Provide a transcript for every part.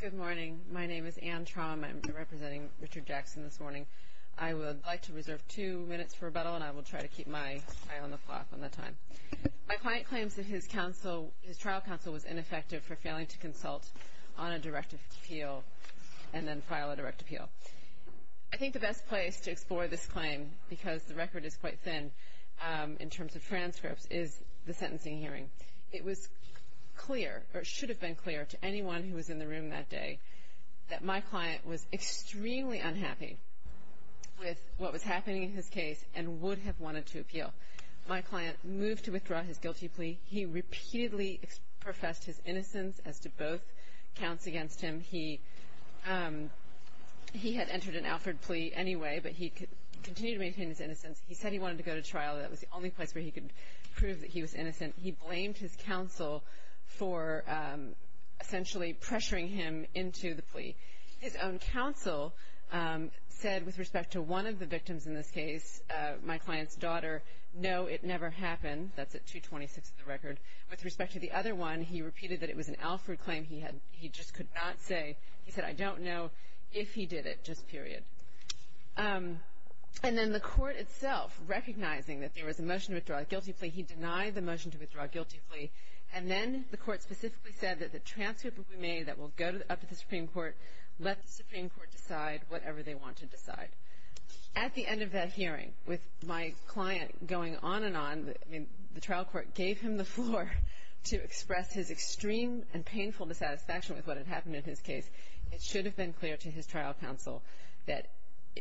Good morning. My name is Anne Traum. I'm representing Richard Jackson this morning. I would like to reserve two minutes for rebuttal, and I will try to keep my eye on the clock on the time. My client claims that his trial counsel was ineffective for failing to consult on a directive appeal and then file a direct appeal. I think the best place to explore this claim, because the record is quite thin in terms of transcripts, is the sentencing hearing. It was clear, or it should have been clear to anyone who was in the room that day that my client was extremely unhappy with what was happening in his case and would have wanted to appeal. My client moved to withdraw his guilty plea. He repeatedly professed his innocence. He said he wanted to go to trial. That was the only place where he could prove that he was innocent. He blamed his counsel for essentially pressuring him into the plea. His own counsel said with respect to one of the victims in this case, my client's daughter, no, it never happened. That's at 226 of the record. With respect to the other one, he repeated that it was an Alford claim. He just could not say. He said, I don't know if he did it, just period. And then the court itself, recognizing that there was a motion to withdraw a guilty plea, he denied the motion to withdraw a guilty plea. And then the court specifically said that the transcript will be made that will go up to the Supreme Court, let the Supreme Court decide whatever they want to decide. At the end of that hearing, with my client going on and on, I mean, the trial court gave him the floor to express his extreme and painful dissatisfaction with what had happened in his case. It should have been clear to his trial counsel that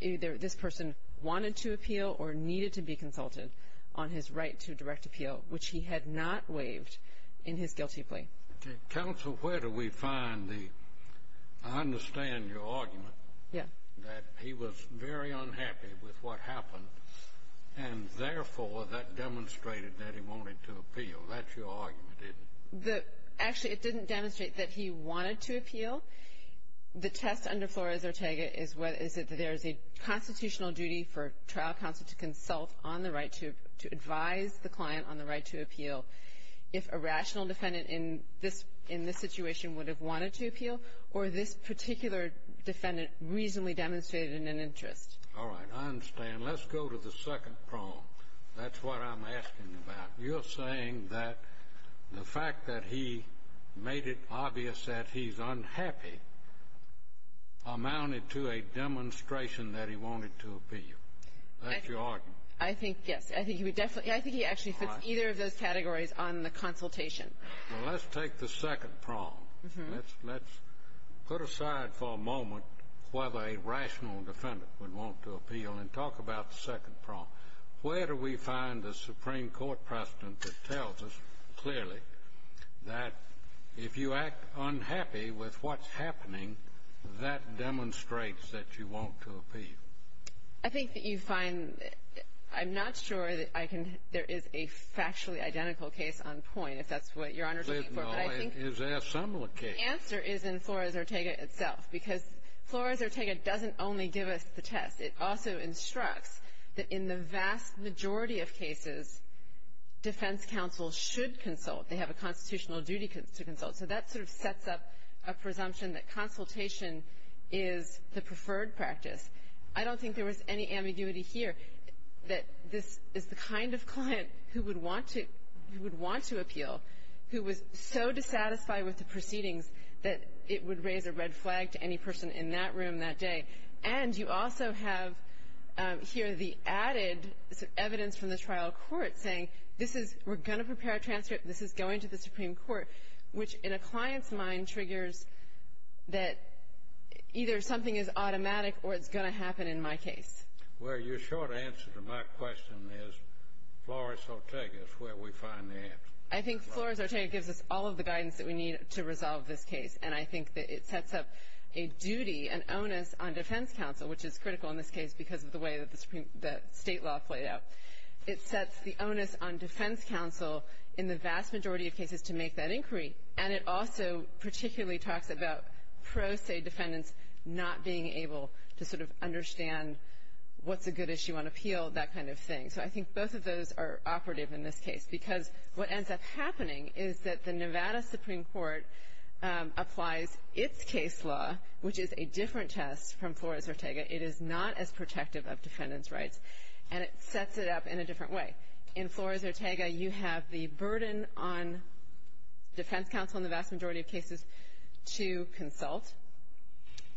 either this person wanted to appeal or needed to be consulted on his right to direct appeal, which he had not waived in his guilty plea. Okay. Counsel, where do we find the, I understand your argument that he was very unhappy with what happened, and therefore, that demonstrated that he wanted to appeal. That's your argument, isn't it? The actually, it didn't demonstrate that he wanted to appeal. The test under Flores-Ortega is whether, is it that there is a constitutional duty for trial counsel to consult on the right to, to advise the client on the right to appeal if a rational defendant in this, in this situation would have wanted to appeal, or this particular defendant reasonably demonstrated in an interest. All right. I understand. Let's go to the second prong. That's what I'm asking about. You're saying that the fact that he made it obvious that he's unhappy amounted to a demonstration that he wanted to appeal. That's your argument. I think, yes. I think he would definitely – I think he actually fits either of those categories on the consultation. All right. Well, let's take the second prong. Let's, let's put aside for a moment whether a rational defendant would want to appeal and talk about the second prong. Where do we find a Supreme Court precedent that tells us clearly that if you act unhappy with what's happening, that demonstrates that you want to appeal? I think that you find – I'm not sure that I can – there is a factually identical case on point, if that's what Your Honor is looking for, but I think the answer is in Flores-Ortega itself. Because Flores-Ortega doesn't only give us the test. It also instructs that in the vast majority of cases, defense counsel should consult. They have a constitutional duty to consult. So that sort of sets up a presumption that consultation is the preferred practice. I don't think there was any ambiguity here that this is the kind of client who would want to, who would want to appeal, who was so dissatisfied with the proceedings that it would raise a red flag to any person in that room that day. And you also have here the added evidence from the trial court saying, this is – we're going to prepare a transcript, this is going to the Supreme Court, which in a client's mind triggers that either something is automatic or it's going to happen in my case. Well, your short answer to my question is Flores-Ortega is where we find the answer. I think Flores-Ortega gives us all of the guidance that we need to resolve this case. And I think that it sets up a duty, an onus on defense counsel, which is critical in this case because of the way that the state law played out. It sets the onus on defense counsel in the vast majority of cases to make that inquiry. And it also particularly talks about pro se defendants not being able to sort of understand what's a good issue on appeal, that kind of thing. So I think both of those are operative in this case. Because what ends up happening is that the Nevada Supreme Court applies its case law, which is a different test from Flores-Ortega. It is not as protective of defendants' rights. And it sets it up in a different way. In Flores-Ortega, you have the burden on defense counsel in the vast majority of cases to consult.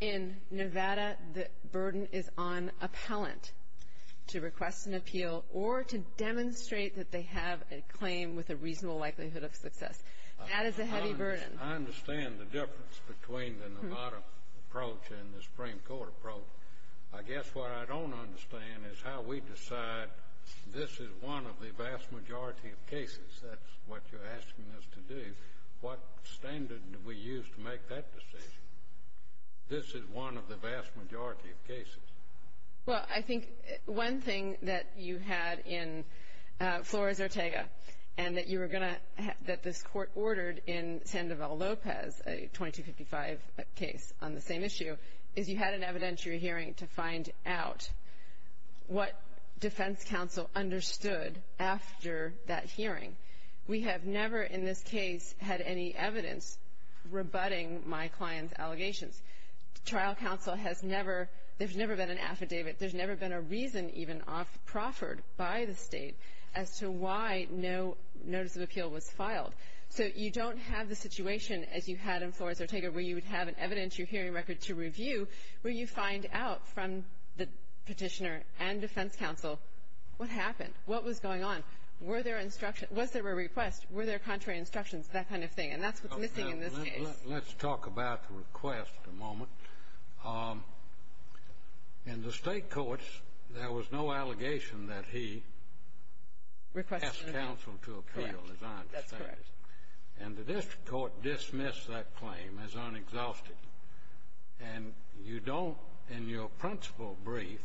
In Nevada, the burden is on appellant to request an appeal or to demonstrate that they have a claim with a reasonable likelihood of success. That is a heavy burden. I understand the difference between the Nevada approach and the Supreme Court approach. I guess what I don't understand is how we decide this is one of the vast majority of cases. That's what you're asking us to do. What standard do we use to make that decision? This is one of the vast majority of cases. Well, I think one thing that you had in Flores-Ortega and that you were going to, that this court ordered in Sandoval Lopez, a 2255 case on the same issue, is you had an evidentiary hearing to find out what defense counsel understood after that hearing. We have never in this case had any evidence rebutting my client's allegations. Trial counsel has never — there's never been an affidavit. There's never been a reason even proffered by the State as to why no notice of appeal was filed. So you don't have the situation as you had in Flores-Ortega where you would have an evidentiary hearing record to review where you find out from the Petitioner and defense counsel what happened, what was going on, were there instructions — was there a request, were there contrary instructions, that kind of thing. And that's what's missing in this case. Let's talk about the request a moment. In the State courts, there was no allegation that he asked counsel to appeal, as I understand it. Correct. That's correct. And the district court dismissed that claim as unexhausted. And you don't, in your principal brief,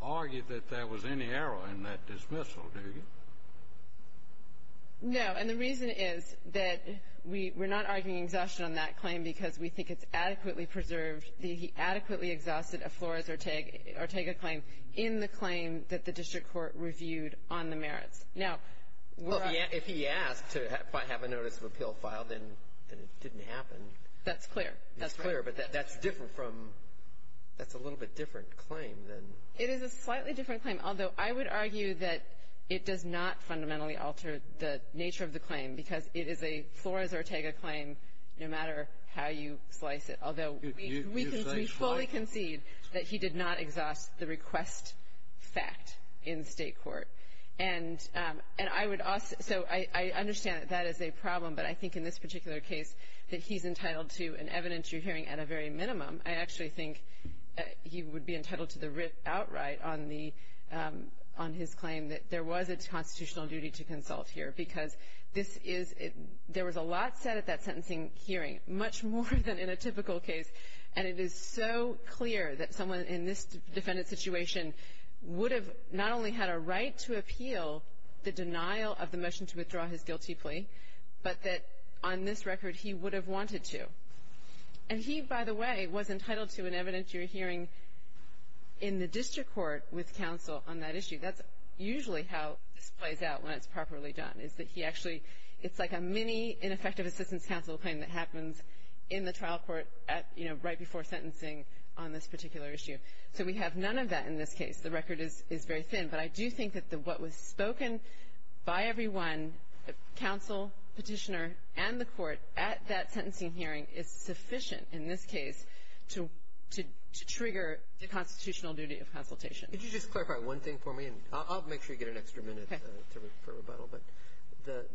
argue that there was any error in that dismissal, do you? No. And the reason is that we're not arguing exhaustion on that claim because we think it's adequately preserved that he adequately exhausted a Flores-Ortega claim in the claim that the district court reviewed on the merits. Now, we're — If he asked to have a notice of appeal filed, then it didn't happen. That's clear. That's clear. But that's different from — that's a little bit different claim than — It is a slightly different claim, although I would argue that it does not fundamentally alter the nature of the claim because it is a Flores-Ortega claim no matter how you slice it, although we fully concede that he did not exhaust the request fact in State court. And I would — so I understand that that is a problem, but I think in this particular case that he's entitled to an evidence you're hearing at a very minimum. I actually think he would be entitled to the writ outright on the — on his claim that there was a constitutional duty to consult here because this is — there was a lot said at that sentencing hearing, much more than in a typical case. And it is so clear that someone in this defendant's situation would have not only had a right to appeal the denial of the motion to withdraw his guilty plea, but that on this record he would have wanted to. And he, by the way, was entitled to an evidence you're hearing in the district court with counsel on that issue. That's usually how this plays out when it's properly done, is that he actually — it's like a mini ineffective assistance counsel claim that happens in the trial court at — you know, right before sentencing on this particular issue. So we have none of that in this case. The record is very thin. But I do think that the — what was spoken by everyone, counsel, petitioner, and the public, is sufficient in this case to trigger the constitutional duty of consultation. Could you just clarify one thing for me? And I'll make sure you get an extra minute for rebuttal. But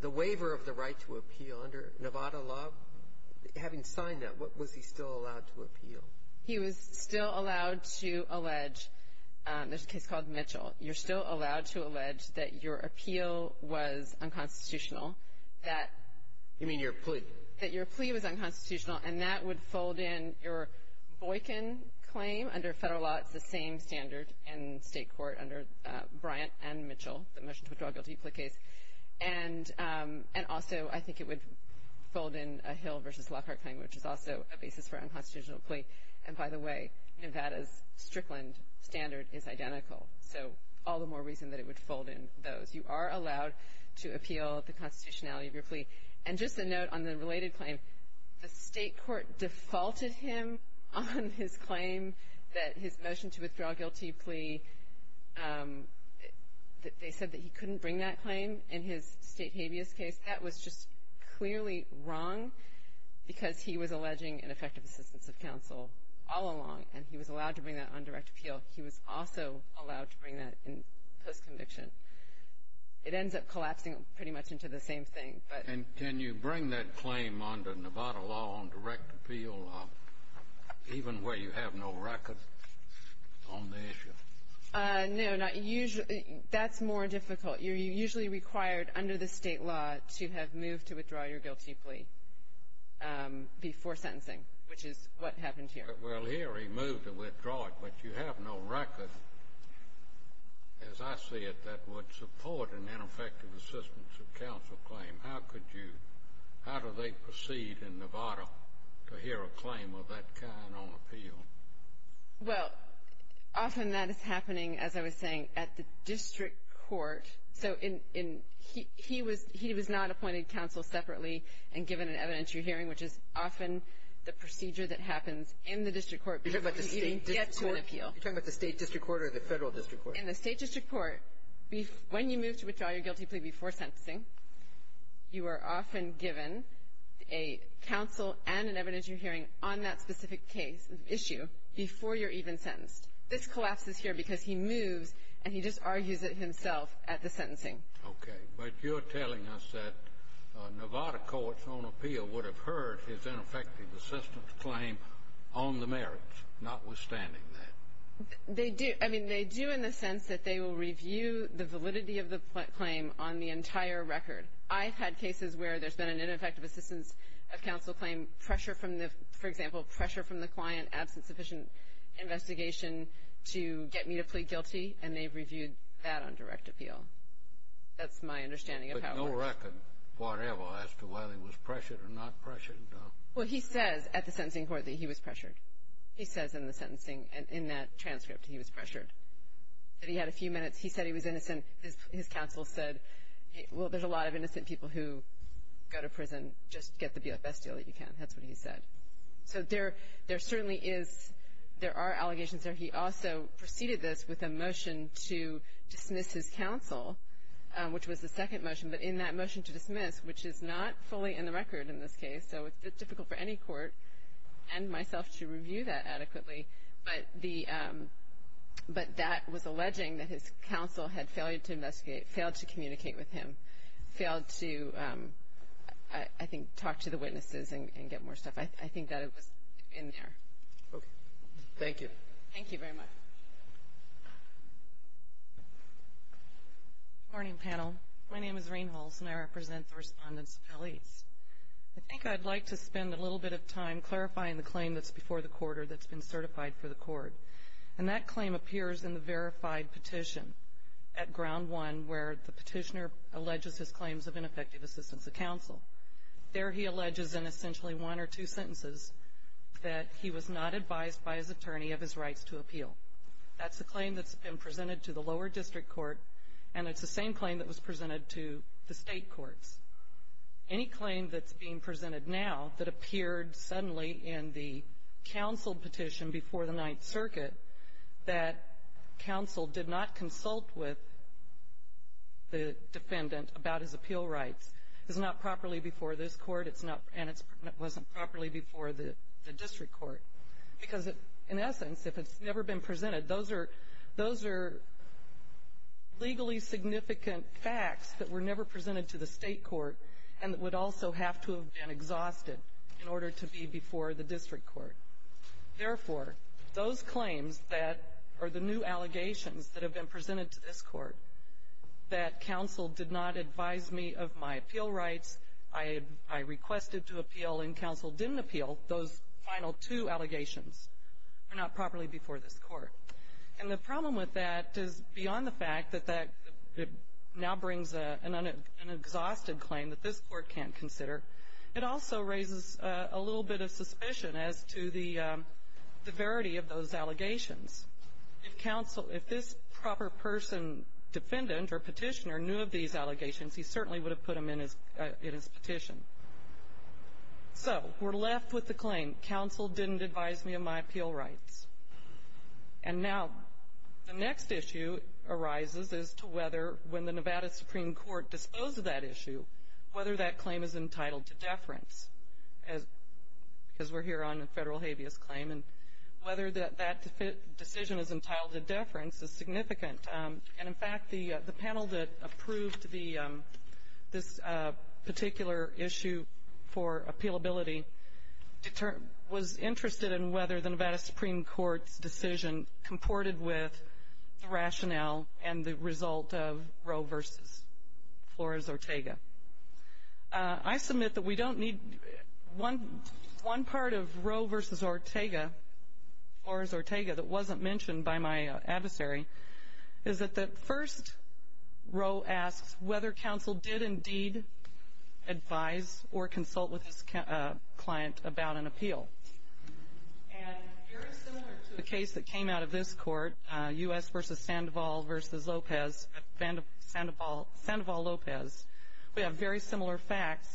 the waiver of the right to appeal under Nevada law, having signed that, was he still allowed to appeal? He was still allowed to allege — there's a case called Mitchell. You're still allowed to allege that your appeal was unconstitutional, that — You mean your plea? — that your plea was unconstitutional, and that would fold in your Boykin claim under federal law. It's the same standard in state court under Bryant and Mitchell, the motion to withdraw a guilty plea case. And also, I think it would fold in a Hill v. Lockhart claim, which is also a basis for unconstitutional plea. And by the way, Nevada's Strickland standard is identical. So all the more reason that it would fold in those. You are allowed to appeal the constitutionality of your plea. And just a note on the related claim, the state court defaulted him on his claim that his motion to withdraw a guilty plea — they said that he couldn't bring that claim in his state habeas case. That was just clearly wrong because he was alleging ineffective assistance of counsel all along, and he was allowed to bring that on direct appeal. He was also allowed to bring that in post-conviction. It ends up collapsing pretty much into the same thing. And can you bring that claim under Nevada law on direct appeal, even where you have no record on the issue? No, that's more difficult. You're usually required under the state law to have moved to withdraw your guilty plea before sentencing, which is what happened here. Well, here he moved to withdraw it, but you have no record, as I see it, that would support an ineffective assistance of counsel claim. How could you — how do they proceed in Nevada to hear a claim of that kind on appeal? Well, often that is happening, as I was saying, at the district court. So in — he was not appointed counsel separately and given an evidentiary hearing, which is often the procedure that happens in the district court before you even get to an appeal. You're talking about the state district court or the federal district court? In the state district court, when you move to withdraw your guilty plea before sentencing, you are often given a counsel and an evidentiary hearing on that specific case — issue before you're even sentenced. This collapses here because he moves, and he just argues it himself at the sentencing. Okay. But you're telling us that Nevada courts on appeal would have heard his ineffective assistance claim on the merits, notwithstanding that. They do. I mean, they do in the sense that they will review the validity of the claim on the entire record. I've had cases where there's been an ineffective assistance of counsel claim, pressure from the — for example, pressure from the client, absence of sufficient investigation to get me to plead guilty, and they've reviewed that on direct appeal. That's my understanding of how — But no record, whatever, as to whether he was pressured or not pressured, though. Well, he says at the sentencing court that he was pressured. He says in the sentencing — in that transcript he was pressured. That he had a few minutes. He said he was innocent. His counsel said, well, there's a lot of innocent people who go to prison. Just get the best deal that you can. That's what he said. So there certainly is — there are allegations there. He also preceded this with a motion to dismiss his counsel, which was the second motion. But in that motion to dismiss, which is not fully in the record in this case, so it's difficult for any court and myself to review that adequately, but the — but that was counsel had failed to investigate, failed to communicate with him, failed to, I think, talk to the witnesses and get more stuff. I think that it was in there. Okay. Thank you. Thank you very much. Good morning, panel. My name is Rain Holson. I represent the respondents of L.E.A.S. I think I'd like to spend a little bit of time clarifying the claim that's before the court or that's been certified for the court, and that claim appears in the verified petition at ground one where the petitioner alleges his claims of ineffective assistance to counsel. There he alleges in essentially one or two sentences that he was not advised by his attorney of his rights to appeal. That's the claim that's been presented to the lower district court, and it's the same claim that was presented to the state courts. Any claim that's being presented now that appeared suddenly in the counsel petition before the Ninth Circuit that counsel did not consult with the defendant about his appeal rights is not properly before this court, and it wasn't properly before the district court, because in essence, if it's never been presented, those are legally significant facts that were never presented to the state court and would also have to have been exhausted in order to be before the district court. Therefore, those claims that are the new allegations that have been presented to this court, that counsel did not advise me of my appeal rights, I requested to appeal and counsel didn't appeal, those final two allegations are not properly before this court. And the problem with that is beyond the fact that that now brings an exhausted claim that this court can't consider, it also raises a little bit of suspicion as to the verity of those allegations. If counsel, if this proper person, defendant or petitioner, knew of these allegations, he certainly would have put them in his petition. So we're left with the claim, counsel didn't advise me of my appeal rights. And now the next issue arises as to whether when the Nevada Supreme Court disposed of that issue, whether that claim is entitled to deference, because we're here on a federal habeas claim, and whether that decision is entitled to deference is significant. And in fact, the panel that approved this particular issue for appealability was interested in whether the Nevada Supreme Court's decision comported with the rationale and the result of Roe versus Flores-Ortega. I submit that we don't need one part of Roe versus Ortega, Flores-Ortega, that wasn't mentioned by my adversary, is that the first Roe asks whether counsel did indeed advise or consult with this client about an appeal. And very similar to a case that came out of this court, U.S. versus Sandoval versus Lopez, Sandoval-Lopez, we have very similar facts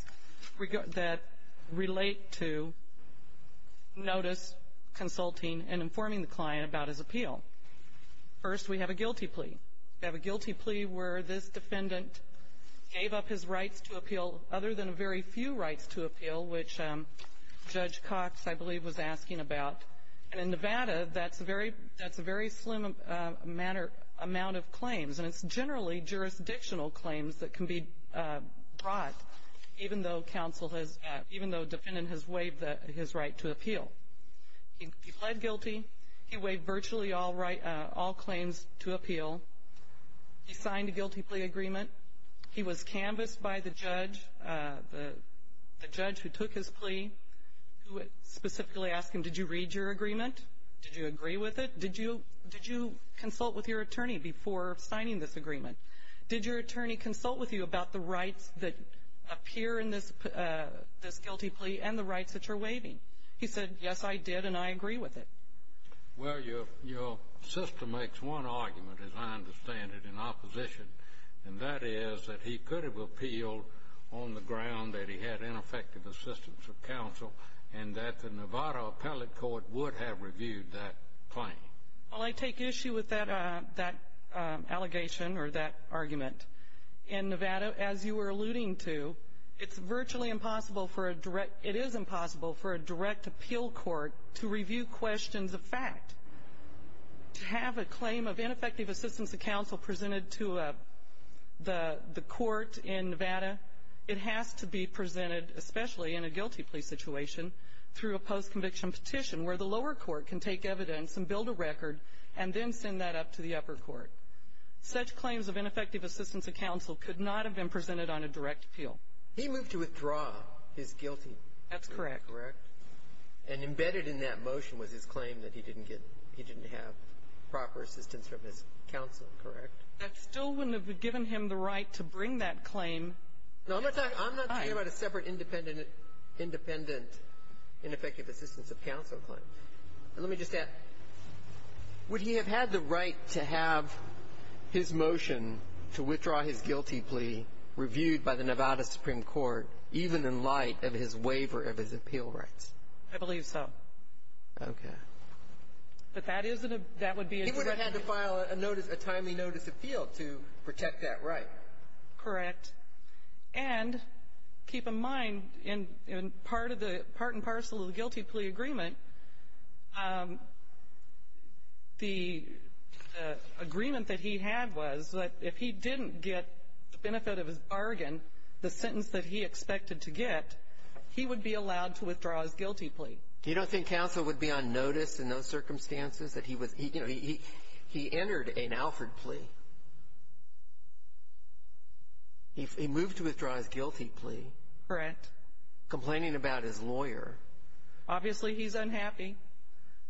that relate to notice, consulting, and informing the client about his appeal. First, we have a guilty plea. We have a guilty plea where this defendant gave up his rights to appeal, other than a very few rights to appeal, which Judge Cox, I believe, was asking about. And in Nevada, that's a very slim amount of claims, and it's generally jurisdictional claims that can be brought, even though counsel has, even though the defendant has waived his right to appeal. He pled guilty. He waived virtually all claims to appeal. He signed a guilty plea agreement. He was canvassed by the judge, the judge who took his plea, who specifically asked him, did you read your agreement? Did you agree with it? Did you consult with your attorney before signing this agreement? Did your attorney consult with you about the rights that appear in this guilty plea and the rights that you're waiving? He said, yes, I did, and I agree with it. Well, your sister makes one argument, as I understand it, in opposition, and that is that he could have appealed on the ground that he had ineffective assistance of counsel and that the Nevada appellate court would have reviewed that claim. Well, I take issue with that allegation or that argument. In Nevada, as you were alluding to, it's virtually impossible for a direct, it is impossible for a direct appeal court to review questions of fact. To have a claim of ineffective assistance of counsel presented to the court in Nevada, it has to be presented, especially in a guilty plea situation, through a post-conviction petition where the lower court can take evidence and build a record and then send that up to the upper court. Such claims of ineffective assistance of counsel could not have been presented on a direct appeal. He moved to withdraw his guilty plea. That's correct. Correct. And embedded in that motion was his claim that he didn't get, he didn't have proper assistance from his counsel, correct? That still wouldn't have given him the right to bring that claim. No, I'm not talking about a separate, independent, ineffective assistance of counsel claim. Let me just add, would he have had the right to have his motion to withdraw his guilty plea reviewed by the Nevada Supreme Court even in light of his waiver of his appeal rights? I believe so. Okay. But that is a, that would be a direct appeal. A timely notice of appeal to protect that right. Correct. And keep in mind, in part of the, part and parcel of the guilty plea agreement, the agreement that he had was that if he didn't get the benefit of his bargain, the sentence that he expected to get, he would be allowed to withdraw his guilty plea. You don't think counsel would be on notice in those circumstances that he was, you know, he entered an Alford plea. He moved to withdraw his guilty plea. Correct. Complaining about his lawyer. Obviously he's unhappy,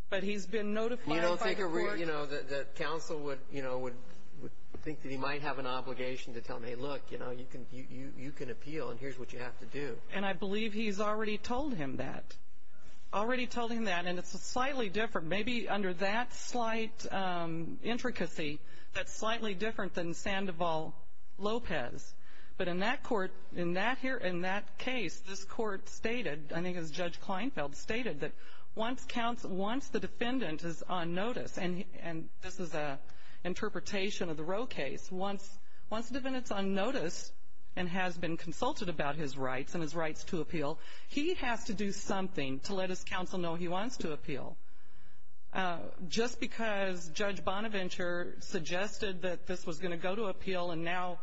but he's been notified by the court. You don't think, you know, that counsel would, you know, would think that he might have an obligation to tell him, hey, look, you know, you can, you can appeal and here's what you have to do. And I believe he's already told him that. Already told him that. And it's a slightly different, maybe under that slight intricacy, that's slightly different than Sandoval Lopez. But in that court, in that here, in that case, this court stated, I think as Judge Kleinfeld stated, that once counsel, once the defendant is on notice, and this is a interpretation of the Roe case, once the defendant's on notice and has been consulted about his rights and his rights to appeal, he has to do something to let this counsel know he wants to appeal. Just because Judge Bonaventure suggested that this was going to go to appeal and now,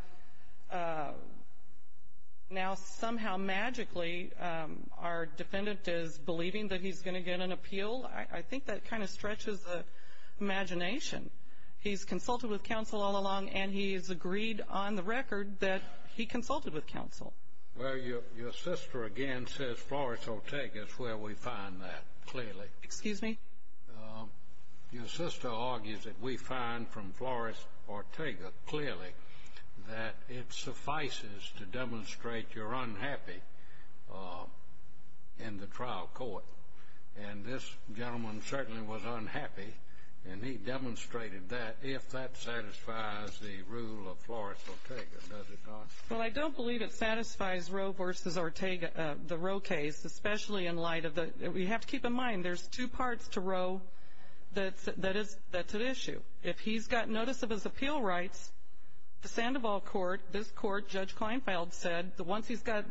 now somehow magically our defendant is believing that he's going to get an appeal, I think that kind of stretches the imagination. He's consulted with counsel all along and he's agreed on the record that he consulted with counsel. Well, your sister again says Flores Ortega is where we find that, clearly. Excuse me? Your sister argues that we find from Flores Ortega, clearly, that it suffices to demonstrate you're unhappy in the trial court. And this gentleman certainly was unhappy and he demonstrated that if that satisfies the rule of Flores Ortega, does it not? Well, I don't believe it satisfies Roe versus Ortega, the Roe case, especially in light of the, we have to keep in mind there's two parts to Roe that's an issue. If he's got notice of his appeal rights, the Sandoval court, this court, Judge Kleinfeld said that once he's got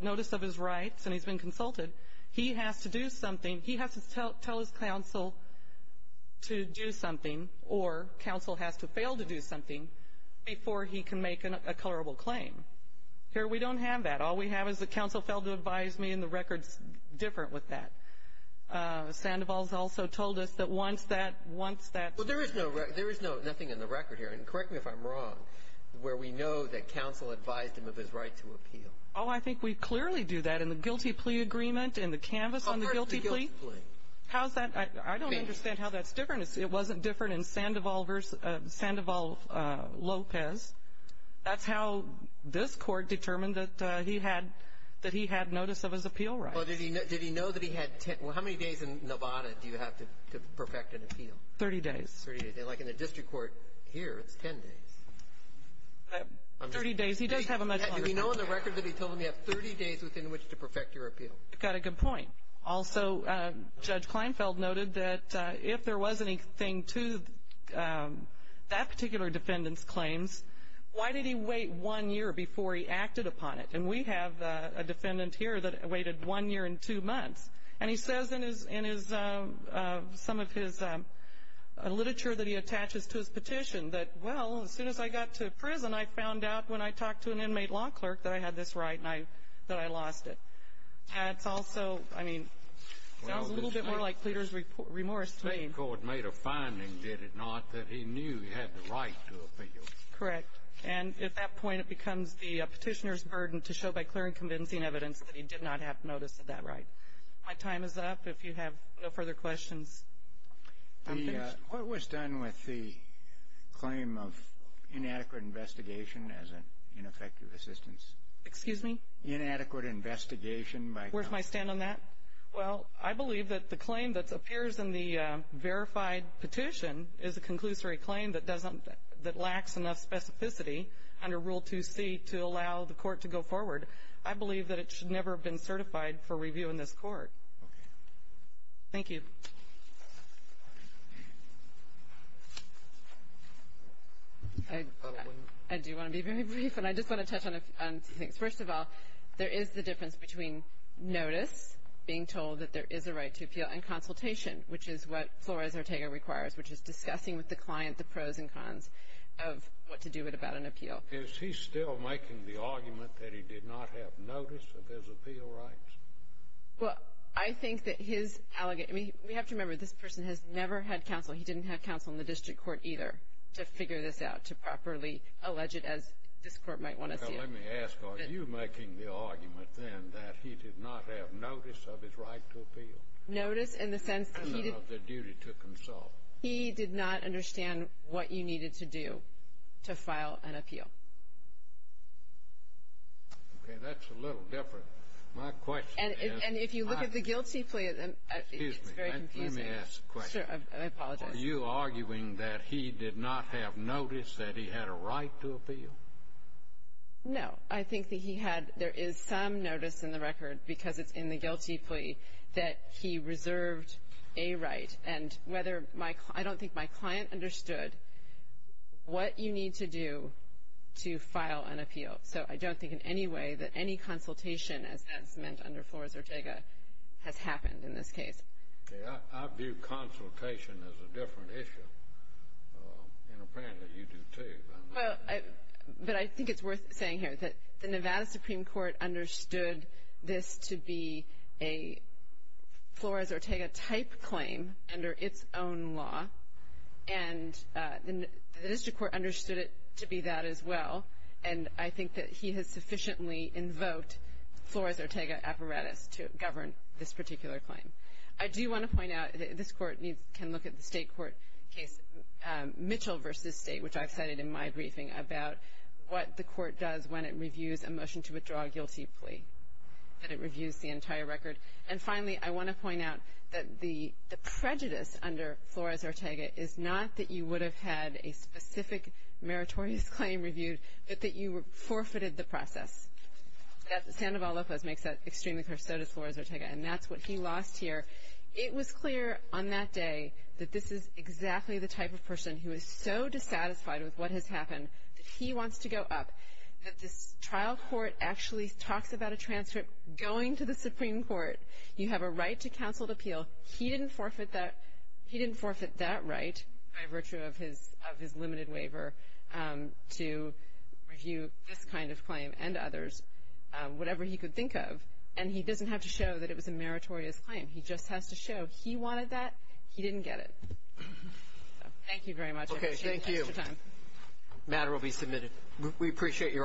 notice of his rights and he's been consulted, he has to do something, he has to tell his counsel to do something or counsel has to fail to do something before he can make a colorable claim. Here we don't have that. All we have is the counsel failed to advise me and the record's different with that. Sandoval's also told us that once that, once that. Well, there is no, there is no, nothing in the record here and correct me if I'm wrong, where we know that counsel advised him of his right to appeal. Oh, I think we clearly do that in the guilty plea agreement, in the canvas on the guilty plea. How's that? I don't understand how that's different. It wasn't different in Sandoval versus Sandoval Lopez. That's how this court determined that he had, that he had notice of his appeal rights. Did he know that he had 10, how many days in Nevada do you have to perfect an appeal? 30 days. Like in the district court here, it's 10 days. 30 days. He does have a much longer. Did he know in the record that he told him you have 30 days within which to perfect your appeal? Got a good point. Also, Judge Kleinfeld noted that if there was anything to that particular defendant's claims, why did he wait one year before he acted upon it? And we have a defendant here that waited one year and two months. And he says in his, in his, some of his literature that he attaches to his petition that, well, as soon as I got to prison, I found out when I talked to an inmate law clerk that I had this right and I, that I lost it. And it's also, I mean, sounds a little bit more like pleader's remorse to me. The state court made a finding, did it not, that he knew he had the right to appeal. Correct. And at that point, it becomes the petitioner's burden to show by clearing convincing evidence that he did not have notice of that right. My time is up. If you have no further questions, I'm finished. What was done with the claim of inadequate investigation as an ineffective assistance? Excuse me? Inadequate investigation. Where's my stand on that? Well, I believe that the claim that appears in the verified petition is a conclusory claim that doesn't, that lacks enough specificity under Rule 2C to allow the court to go forward. I believe that it should never have been certified for review in this court. Okay. Thank you. I do want to be very brief, and I just want to touch on a few things. First of all, there is the difference between notice, being told that there is a right to appeal, and consultation, which is what Flores-Ortega requires, which is discussing with the client the pros and cons of what to do about an appeal. Is he still making the argument that he did not have notice of his appeal rights? Well, I think that his allegation, we have to remember, this person has never had counsel. He didn't have counsel in the district court either to figure this out, to properly allege it as this court might want to see it. Let me ask, are you making the argument, then, that he did not have notice of his right to appeal? Notice in the sense that he did not understand what you needed to do to file an appeal. Okay. That's a little different. My question is — And if you look at the guilty plea, it's very confusing. Excuse me. Let me ask a question. I apologize. Are you arguing that he did not have notice that he had a right to appeal? No. I think that he had — there is some notice in the record, because it's in the guilty plea, that he reserved a right. And whether my — I don't think my client understood what you need to do to file an appeal. So I don't think in any way that any consultation, as that's meant under Flores-Ortega, has happened in this case. Okay. I view consultation as a different issue. And apparently you do, too. Well, I — but I think it's worth saying here that the Nevada Supreme Court understood this to be a Flores-Ortega-type claim under its own law. And the district court understood it to be that as well. And I think that he has sufficiently invoked Flores-Ortega apparatus to govern this particular claim. I do want to point out that this Court needs — can look at the State court case, Mitchell v. State, which I've cited in my briefing, about what the Court does when it reviews a motion to withdraw a guilty plea, that it reviews the entire record. And finally, I want to point out that the prejudice under Flores-Ortega is not that you would have had a specific meritorious claim reviewed, but that you forfeited the process. Sandoval-Lopez makes that extremely clear. So does Flores-Ortega. And that's what he lost here. It was clear on that day that this is exactly the type of person who is so dissatisfied with what has happened that he wants to go up, that this trial court actually talks about a transcript going to the Supreme Court. You have a right to counseled appeal. He didn't forfeit that — he didn't forfeit that right by virtue of his — of his limited waiver to review this kind of claim and others, whatever he could think of. And he doesn't have to show that it was a meritorious claim. He just has to show he wanted that. He didn't get it. Thank you very much. I appreciate the extra time. Okay, thank you. Matter will be submitted. We appreciate your arguments.